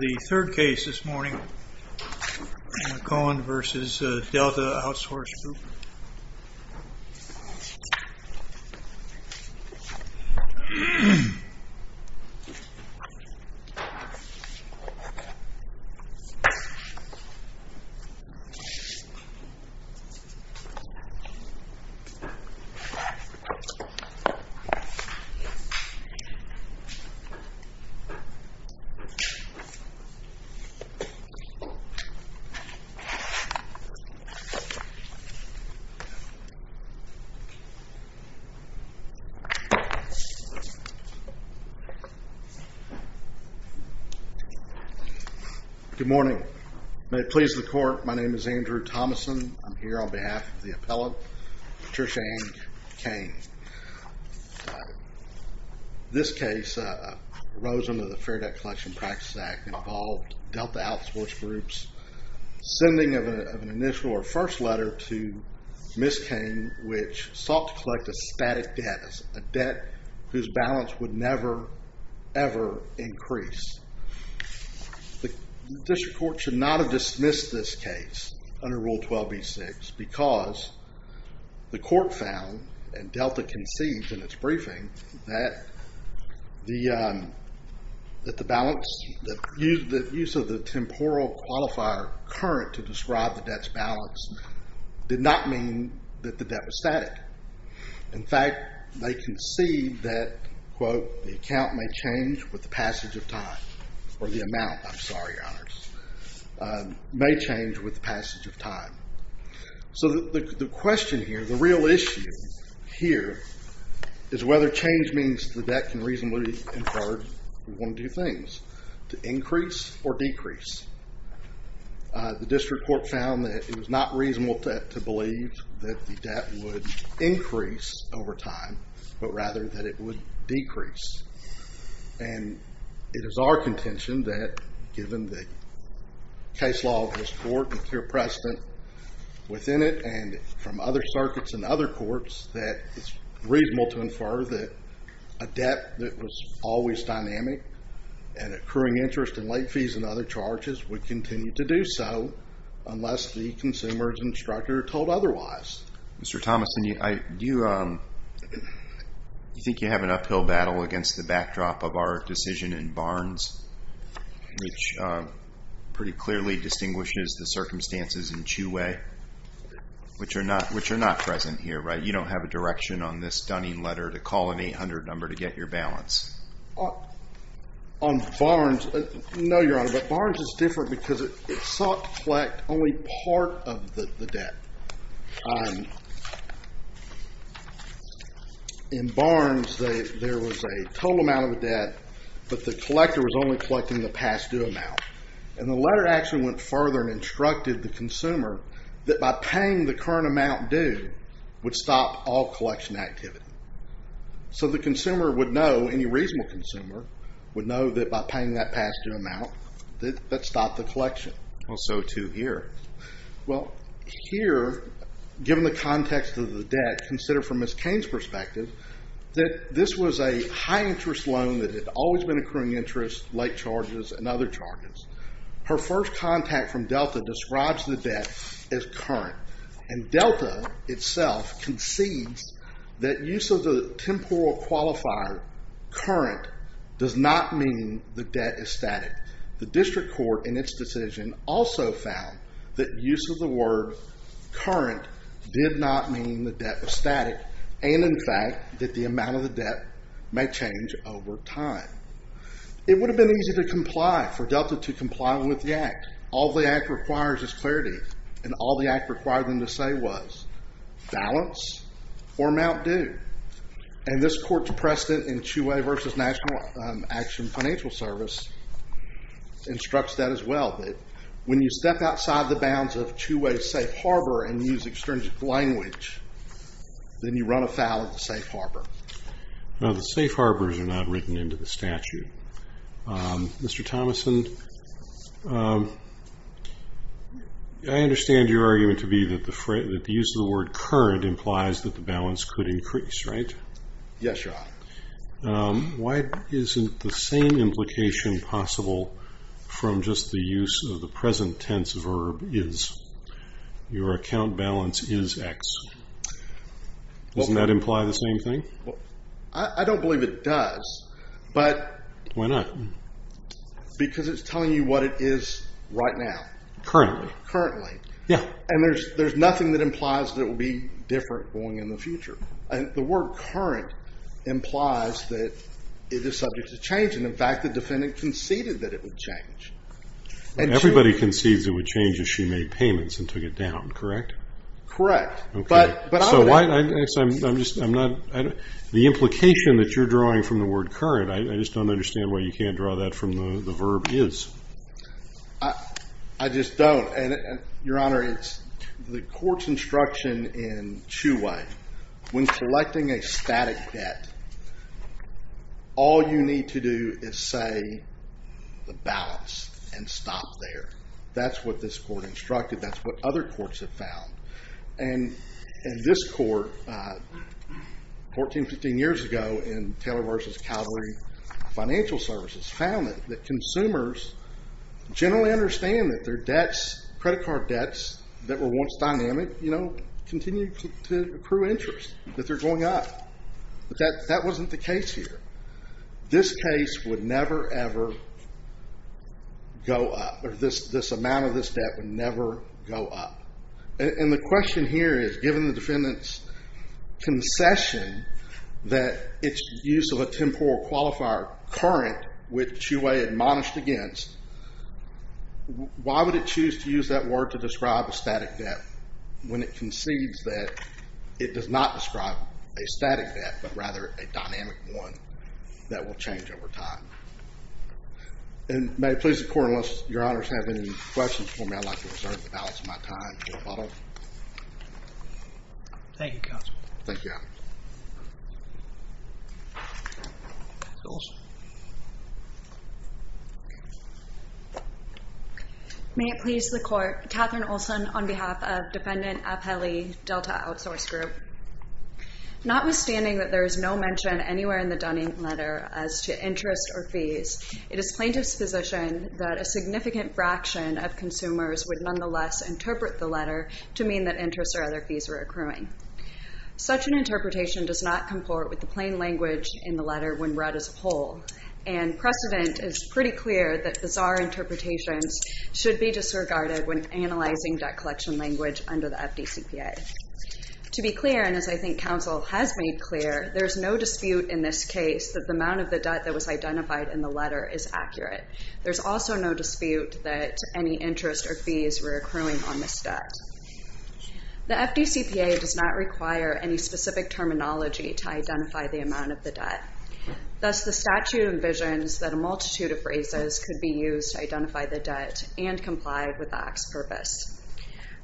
The third case this morning, Koehn v. Delta Outsource Group. Good morning. May it please the court, my name is Andrew Thomason. I'm here on behalf of the appellate, Patricia Anne Koehn. This case rose under the Fair Debt Collection Practice Act that involved Delta Outsource Group's sending of an initial or first letter to Ms. Koehn, which sought to collect a static debt, a debt whose balance would never, ever increase. The district court should not have dismissed this case under Rule 12b-6 because the court found, and Delta concedes in its briefing, that the use of the temporal qualifier current to describe the debt's balance did not mean that the debt was static. In fact, they concede that the account may change with the passage of time, or the amount, I'm sorry, may change with the passage of time. So the question here, the real issue here, is whether change means the debt can reasonably be inferred. We want to do things to increase or decrease. The district court found that it was not reasonable to believe that the debt would increase over time, but rather that it would decrease. And it is our contention that, given the case law of this court and pure precedent within it and from other circuits and other courts, that it's reasonable to infer that a debt that was always dynamic and accruing interest in late fees and other charges would continue to do so unless the consumer's instructor told otherwise. Mr. Thomason, do you think you have an uphill battle against the backdrop of our decision in Barnes, which pretty clearly distinguishes the circumstances in Chew Way, which are not present here, right? You don't have a direction on this stunning letter to call an 800 number to get your balance. On Barnes, no, Your Honor, but Barnes is different because it sought to collect only part of the debt. In Barnes, there was a total amount of the debt, but the collector was only collecting the past due amount. And the letter actually went further and instructed the consumer that by paying the current amount due would stop all collection activity. So the consumer would know, any reasonable consumer would know that by paying that past due amount, that stopped the collection. Well, so too here. Well, here, given the context of the debt, consider from Ms. Cain's perspective that this was a high interest loan that had always been accruing interest, late charges, and other charges. Her first contact from Delta describes the debt as current. And Delta itself concedes that use of the temporal qualifier, current, does not mean the debt is static. The district court, in its decision, also found that use of the word current did not mean the debt was static. And in fact, that the amount of the debt may change over time. It would have been easy to comply for Delta to comply with the act. All the act requires is clarity. And all the act required them to say was, balance or amount due. And this instructs that as well, that when you step outside the bounds of two-way safe harbor and use extrinsic language, then you run afoul of the safe harbor. Now, the safe harbors are not written into the statute. Mr. Thomason, I understand your argument to be that the use of the word current implies that the balance could increase, right? Yes, Your Honor. Why isn't the same implication possible from just the use of the present tense verb, is? Your account balance is X. Doesn't that imply the same thing? I don't believe it does. Why not? Because it's telling you what it is right now. Currently. Currently. Yeah. And there's nothing that implies that it will be different going in the future. The word current implies that it is subject to change. And in fact, the defendant conceded that it would change. Everybody concedes it would change if she made payments and took it down, correct? Correct. Okay. But I would... I'm just, I'm not, the implication that you're drawing from the word current, I just don't understand why you can't draw that from the verb is. I just don't. And Your Honor, it's the court's instruction in Chiu Wayne. When selecting a static debt, all you need to do is say the balance and stop there. That's what this court instructed. That's what other courts have found. And this court, 14, 15 years ago in Taylor v. Calgary Financial Services, found that consumers generally understand that their debts, credit card debts, that were once dynamic, you know, continue to accrue interest. That they're going up. But that wasn't the case here. This case would never, ever go up. Or this amount of this debt would never go up. And the question here is, given the defendant's concession that it's the use of a temporal qualifier, current, which Chiu Wayne admonished against, why would it choose to use that word to describe a static debt when it concedes that it does not describe a static debt, but rather a dynamic one that will change over time? And may it please the Court, unless Your Honors have any questions for me, I'd like to reserve the balance of my time. Thank you, Counsel. Thank you. Thank you. Ms. Olson. May it please the Court, Katherine Olson on behalf of Defendant Apelli, Delta Outsource Group. Notwithstanding that there is no mention anywhere in the Dunning letter as to interest or fees, it is plain disposition that a significant fraction of consumers would nonetheless interpret the letter to mean that interest or other fees were accruing. Such an interpretation does not comport with the plain language in the letter when read as a whole. And precedent is pretty clear that bizarre interpretations should be disregarded when analyzing debt collection language under the FDCPA. To be clear, and as I think Counsel has made clear, there's no dispute in this case that the amount of the debt that was identified in the letter is accurate. There's also no mention of interest or fees were accruing on this debt. The FDCPA does not require any specific terminology to identify the amount of the debt. Thus the statute envisions that a multitude of phrases could be used to identify the debt and comply with the Act's purpose.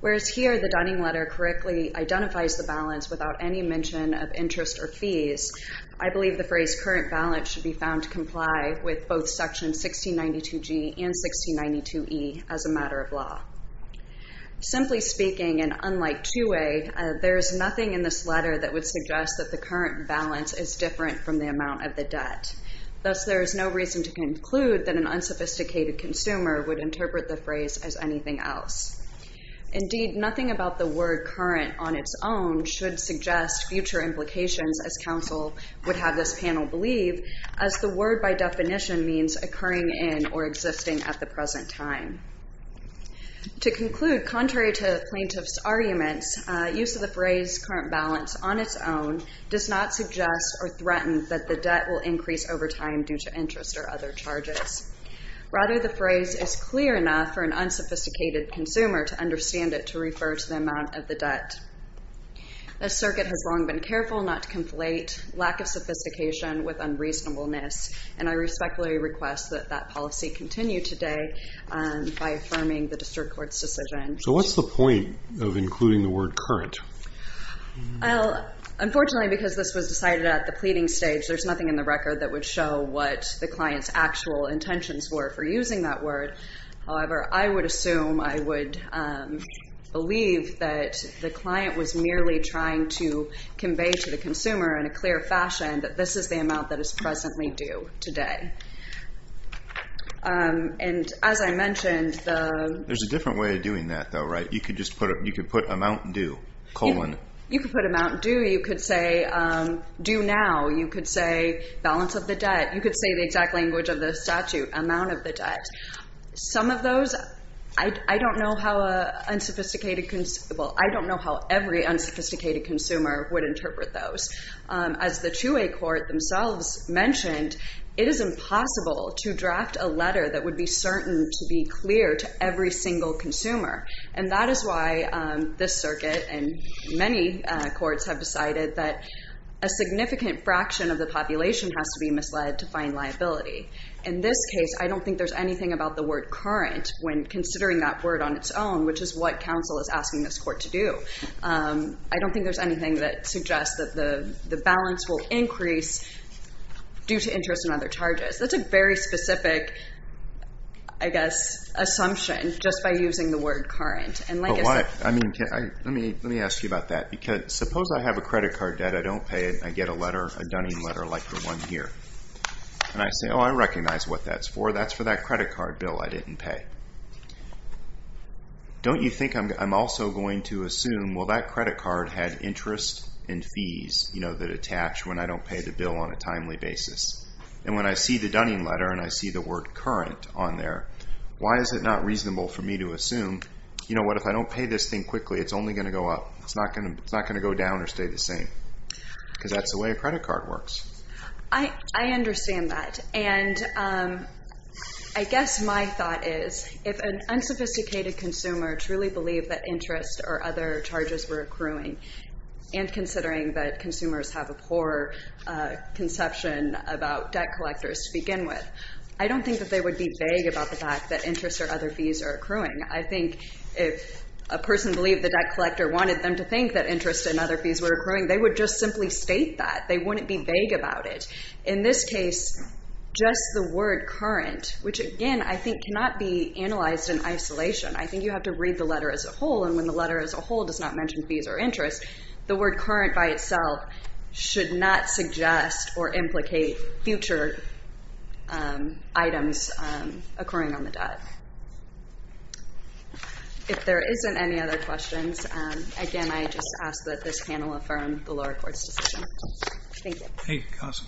Whereas here the Dunning letter correctly identifies the balance without any mention of interest or fees, I believe the phrase current balance should be found to comply with both section 1692G and 1692E as a matter of law. Simply speaking, and unlike 2A, there's nothing in this letter that would suggest that the current balance is different from the amount of the debt. Thus there is no reason to conclude that an unsophisticated consumer would interpret the phrase as anything else. Indeed, nothing about the word current on its own should suggest future implications as Counsel would have this panel believe, as the word by definition means occurring in or existing at the present time. To conclude, contrary to plaintiff's arguments, use of the phrase current balance on its own does not suggest or threaten that the debt will increase over time due to interest or other charges. Rather the phrase is clear enough for an unsophisticated consumer to understand it to refer to the amount of the debt. The circuit has long been careful not to conflate lack of sophistication with unreasonableness, and I respectfully request that that policy continue today by affirming the district court's decision. So what's the point of including the word current? Unfortunately, because this was decided at the pleading stage, there's nothing in the record that would show what the client's actual intentions were for using that word. However, I would assume, I would believe that the client was merely trying to convey to the consumer in a clear fashion that this is the amount that is presently due today. And as I mentioned, there's a different way of doing that though, right? You could just put it, you could put amount due, colon. You could put amount due. You could say due now. You could say balance of the debt. You could say the exact language of the statute, amount of the debt. Some of those, I don't know how a unsophisticated, well, I don't know how every unsophisticated consumer would do that. As the two-way court themselves mentioned, it is impossible to draft a letter that would be certain to be clear to every single consumer. And that is why this circuit and many courts have decided that a significant fraction of the population has to be misled to find liability. In this case, I don't think there's anything about the word current when considering that word on its own, which is what counsel is asking this court to do. I don't think there's anything that suggests that the balance will increase due to interest and other charges. That's a very specific, I guess, assumption just by using the word current. But why? I mean, let me ask you about that. Because suppose I have a credit card debt, I don't pay it, and I get a letter, a Dunning letter like the one here. And I say, oh, I recognize what that's for. That's for that credit card bill I didn't pay. Don't you think I'm also going to assume, well, that credit card had interest and fees that attach when I don't pay the bill on a timely basis? And when I see the Dunning letter and I see the word current on there, why is it not reasonable for me to assume, you know what, if I don't pay this thing quickly, it's only going to go up. It's not going to go down or stay the same. Because that's the way a credit card works. I understand that. And I guess my thought is, if an unsophisticated consumer truly believed that interest or other charges were accruing, and considering that consumers have a poor conception about debt collectors to begin with, I don't think that they would be vague about the fact that interest or other fees are accruing. I think if a person believed the debt collector wanted them to think that interest and other fees were accruing, they would just simply state that. They wouldn't be vague about it. In this case, just the word current, which again I think cannot be analyzed in isolation. I think you have to read the letter as a whole, and when the letter as a whole does not mention fees or interest, the word current by itself should not suggest or implicate future items accruing on the lower court's decision. Thank you. Thank you, Counsel.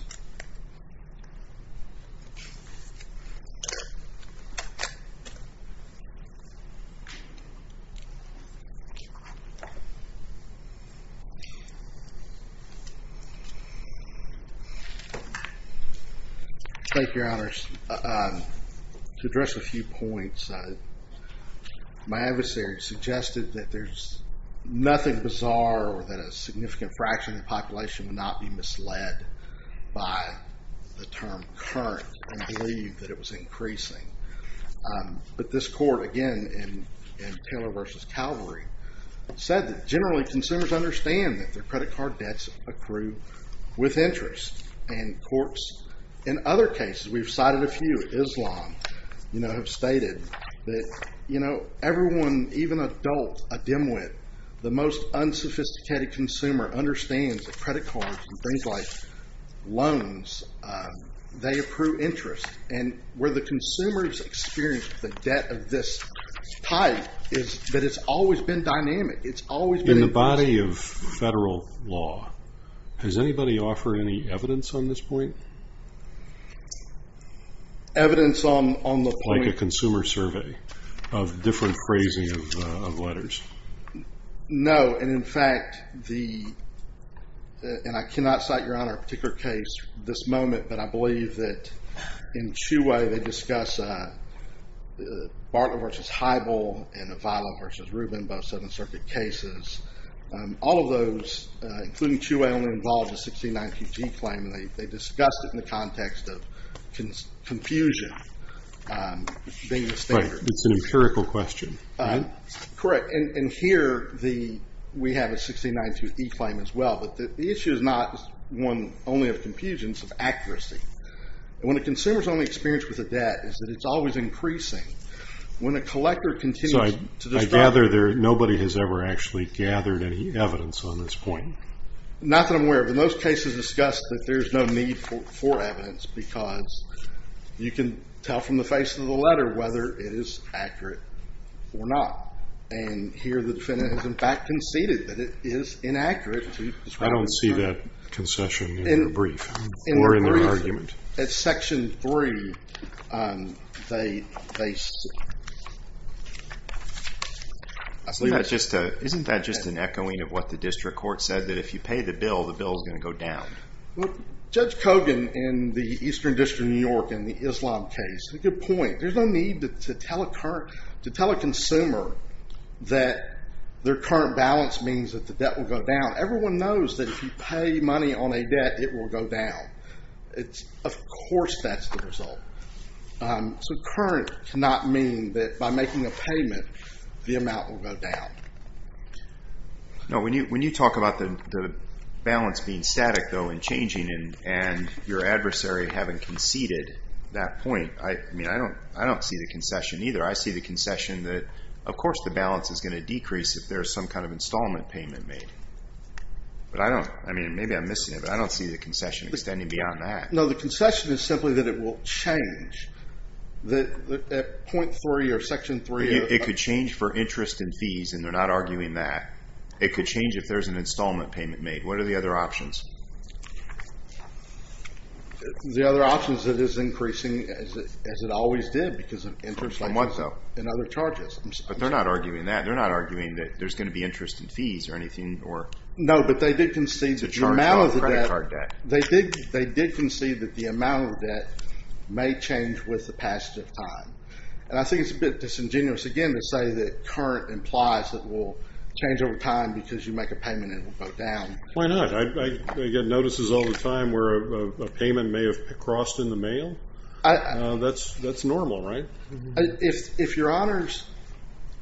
Thank you, Your Honors. To address a few points, my adversary suggested that there's nothing bizarre or that a significant fraction of the population would not be misled by the term current and believe that it was increasing. But this court, again, in Taylor v. Calvary, said that generally consumers understand that their credit card debts accrue with interest. And courts in other cases, we've cited a few, Islam, have stated that everyone, even adults, a dimwit, the most unsophisticated consumer, understands that credit cards and things like loans, they accrue interest. And where the consumers experience the debt of this type is that it's always been dynamic. It's always been... In the body of federal law, has anybody offered any evidence on this point? Evidence on the point... Like a consumer survey of different phrasing of letters. No. And in fact, the... And I cannot cite, Your Honor, a particular case at this moment, but I believe that in Chiu-Wei, they discuss Bartlett v. Heibl and Avila v. Rubin, both Seventh Circuit cases. All of those, including Chiu-Wei, only involved a 1619G claim. And they discussed it in the context of confusion being the standard. Right. It's an empirical question. Correct. And here, we have a 1692E claim as well. But the issue is not one only of confusion, it's of accuracy. And when a consumer's only experience with a debt is that it's always increasing, when a collector continues to... So I gather nobody has ever actually gathered any evidence on this point. Not that I'm aware of. In those cases discussed, there's no need for evidence because you can tell from the face of the letter whether it is accurate or not. And here, the defendant has in fact conceded that it is inaccurate to describe... I don't see that concession in the brief or in the argument. In the brief, at section three, they... Isn't that just an echoing of what the district court said, that if you pay the bill, the bill is going to go down? Judge Kogan in the Eastern District of New York in the Islam case, a good point. There's no need to tell a consumer that their current balance means that the debt will go down. Everyone knows that if you pay money on a debt, it will go down. Of course that's the result. So current cannot mean that by making a payment, the amount will go down. No, when you talk about the balance being static though and changing and your adversary having conceded that point, I mean, I don't see the concession either. I see the concession that, of course, the balance is going to decrease if there's some kind of installment payment made. But I don't... I mean, maybe I'm missing it, but I don't see the concession extending beyond that. No, the concession is simply that it will change at point three or section three. It could change for interest and fees, and they're not arguing that. It could change if there's an installment payment made. What are the other options? The other options, it is increasing, as it always did, because of interest and other charges. But they're not arguing that. They're not arguing that there's going to be interest and fees or anything or... No, but they did concede that the amount of the debt... The charge on the credit card debt. They did concede that the amount of debt may change with the passage of time. And I think it's a bit disingenuous, again, to say that current implies that it will change over time because you make a payment and it will go down. Why not? I get notices all the time where a payment may have crossed in the mail. That's normal, right? If your honors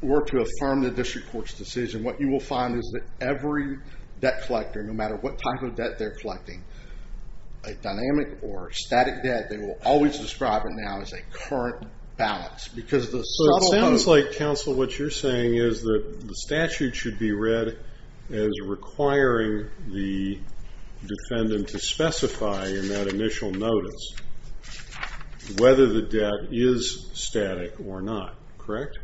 were to affirm the district court's decision, what you will find is that every debt collector, no matter what type of debt they're collecting, a dynamic or static debt, they will always describe it now as a current balance. So it sounds like, counsel, what you're saying is that the statute should be read as requiring the defendant to specify in that initial notice whether the debt is static or not, correct?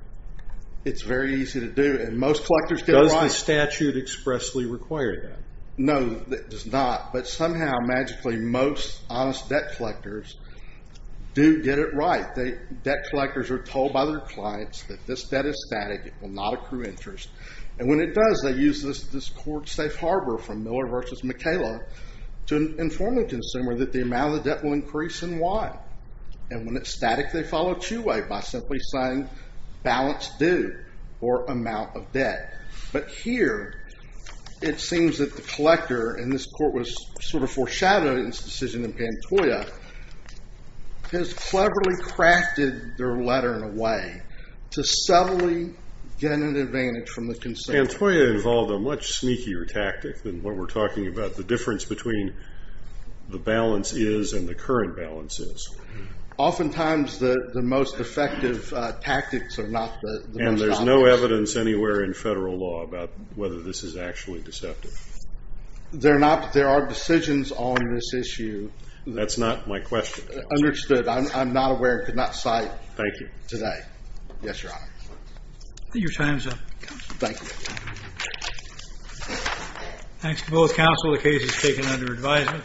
It's very easy to do, and most collectors get it right. Does the statute expressly require that? No, it does not. But somehow, magically, most honest debt collectors do get it right. The debt collectors are told by their clients that this debt is static, it will not accrue interest. And when it does, they use this court safe harbor from Miller versus McKayla to inform the consumer that the amount of the debt will increase and why. And when it's static, they follow two-way by simply saying balance due or amount of debt. But here, it seems that the collector, and this court was sort of foreshadowing this decision of Antoia, has cleverly crafted their letter in a way to subtly get an advantage from the consumer. Antoia involved a much sneakier tactic than what we're talking about. The difference between the balance is and the current balance is. Oftentimes, the most effective tactics are not the most obvious. Is there no evidence anywhere in federal law about whether this is actually deceptive? There are decisions on this issue. That's not my question. Understood. I'm not aware, could not cite. Thank you. Today. Yes, Your Honor. Your time's up. Thank you. Thanks to both counsel. The case is taken under advisement.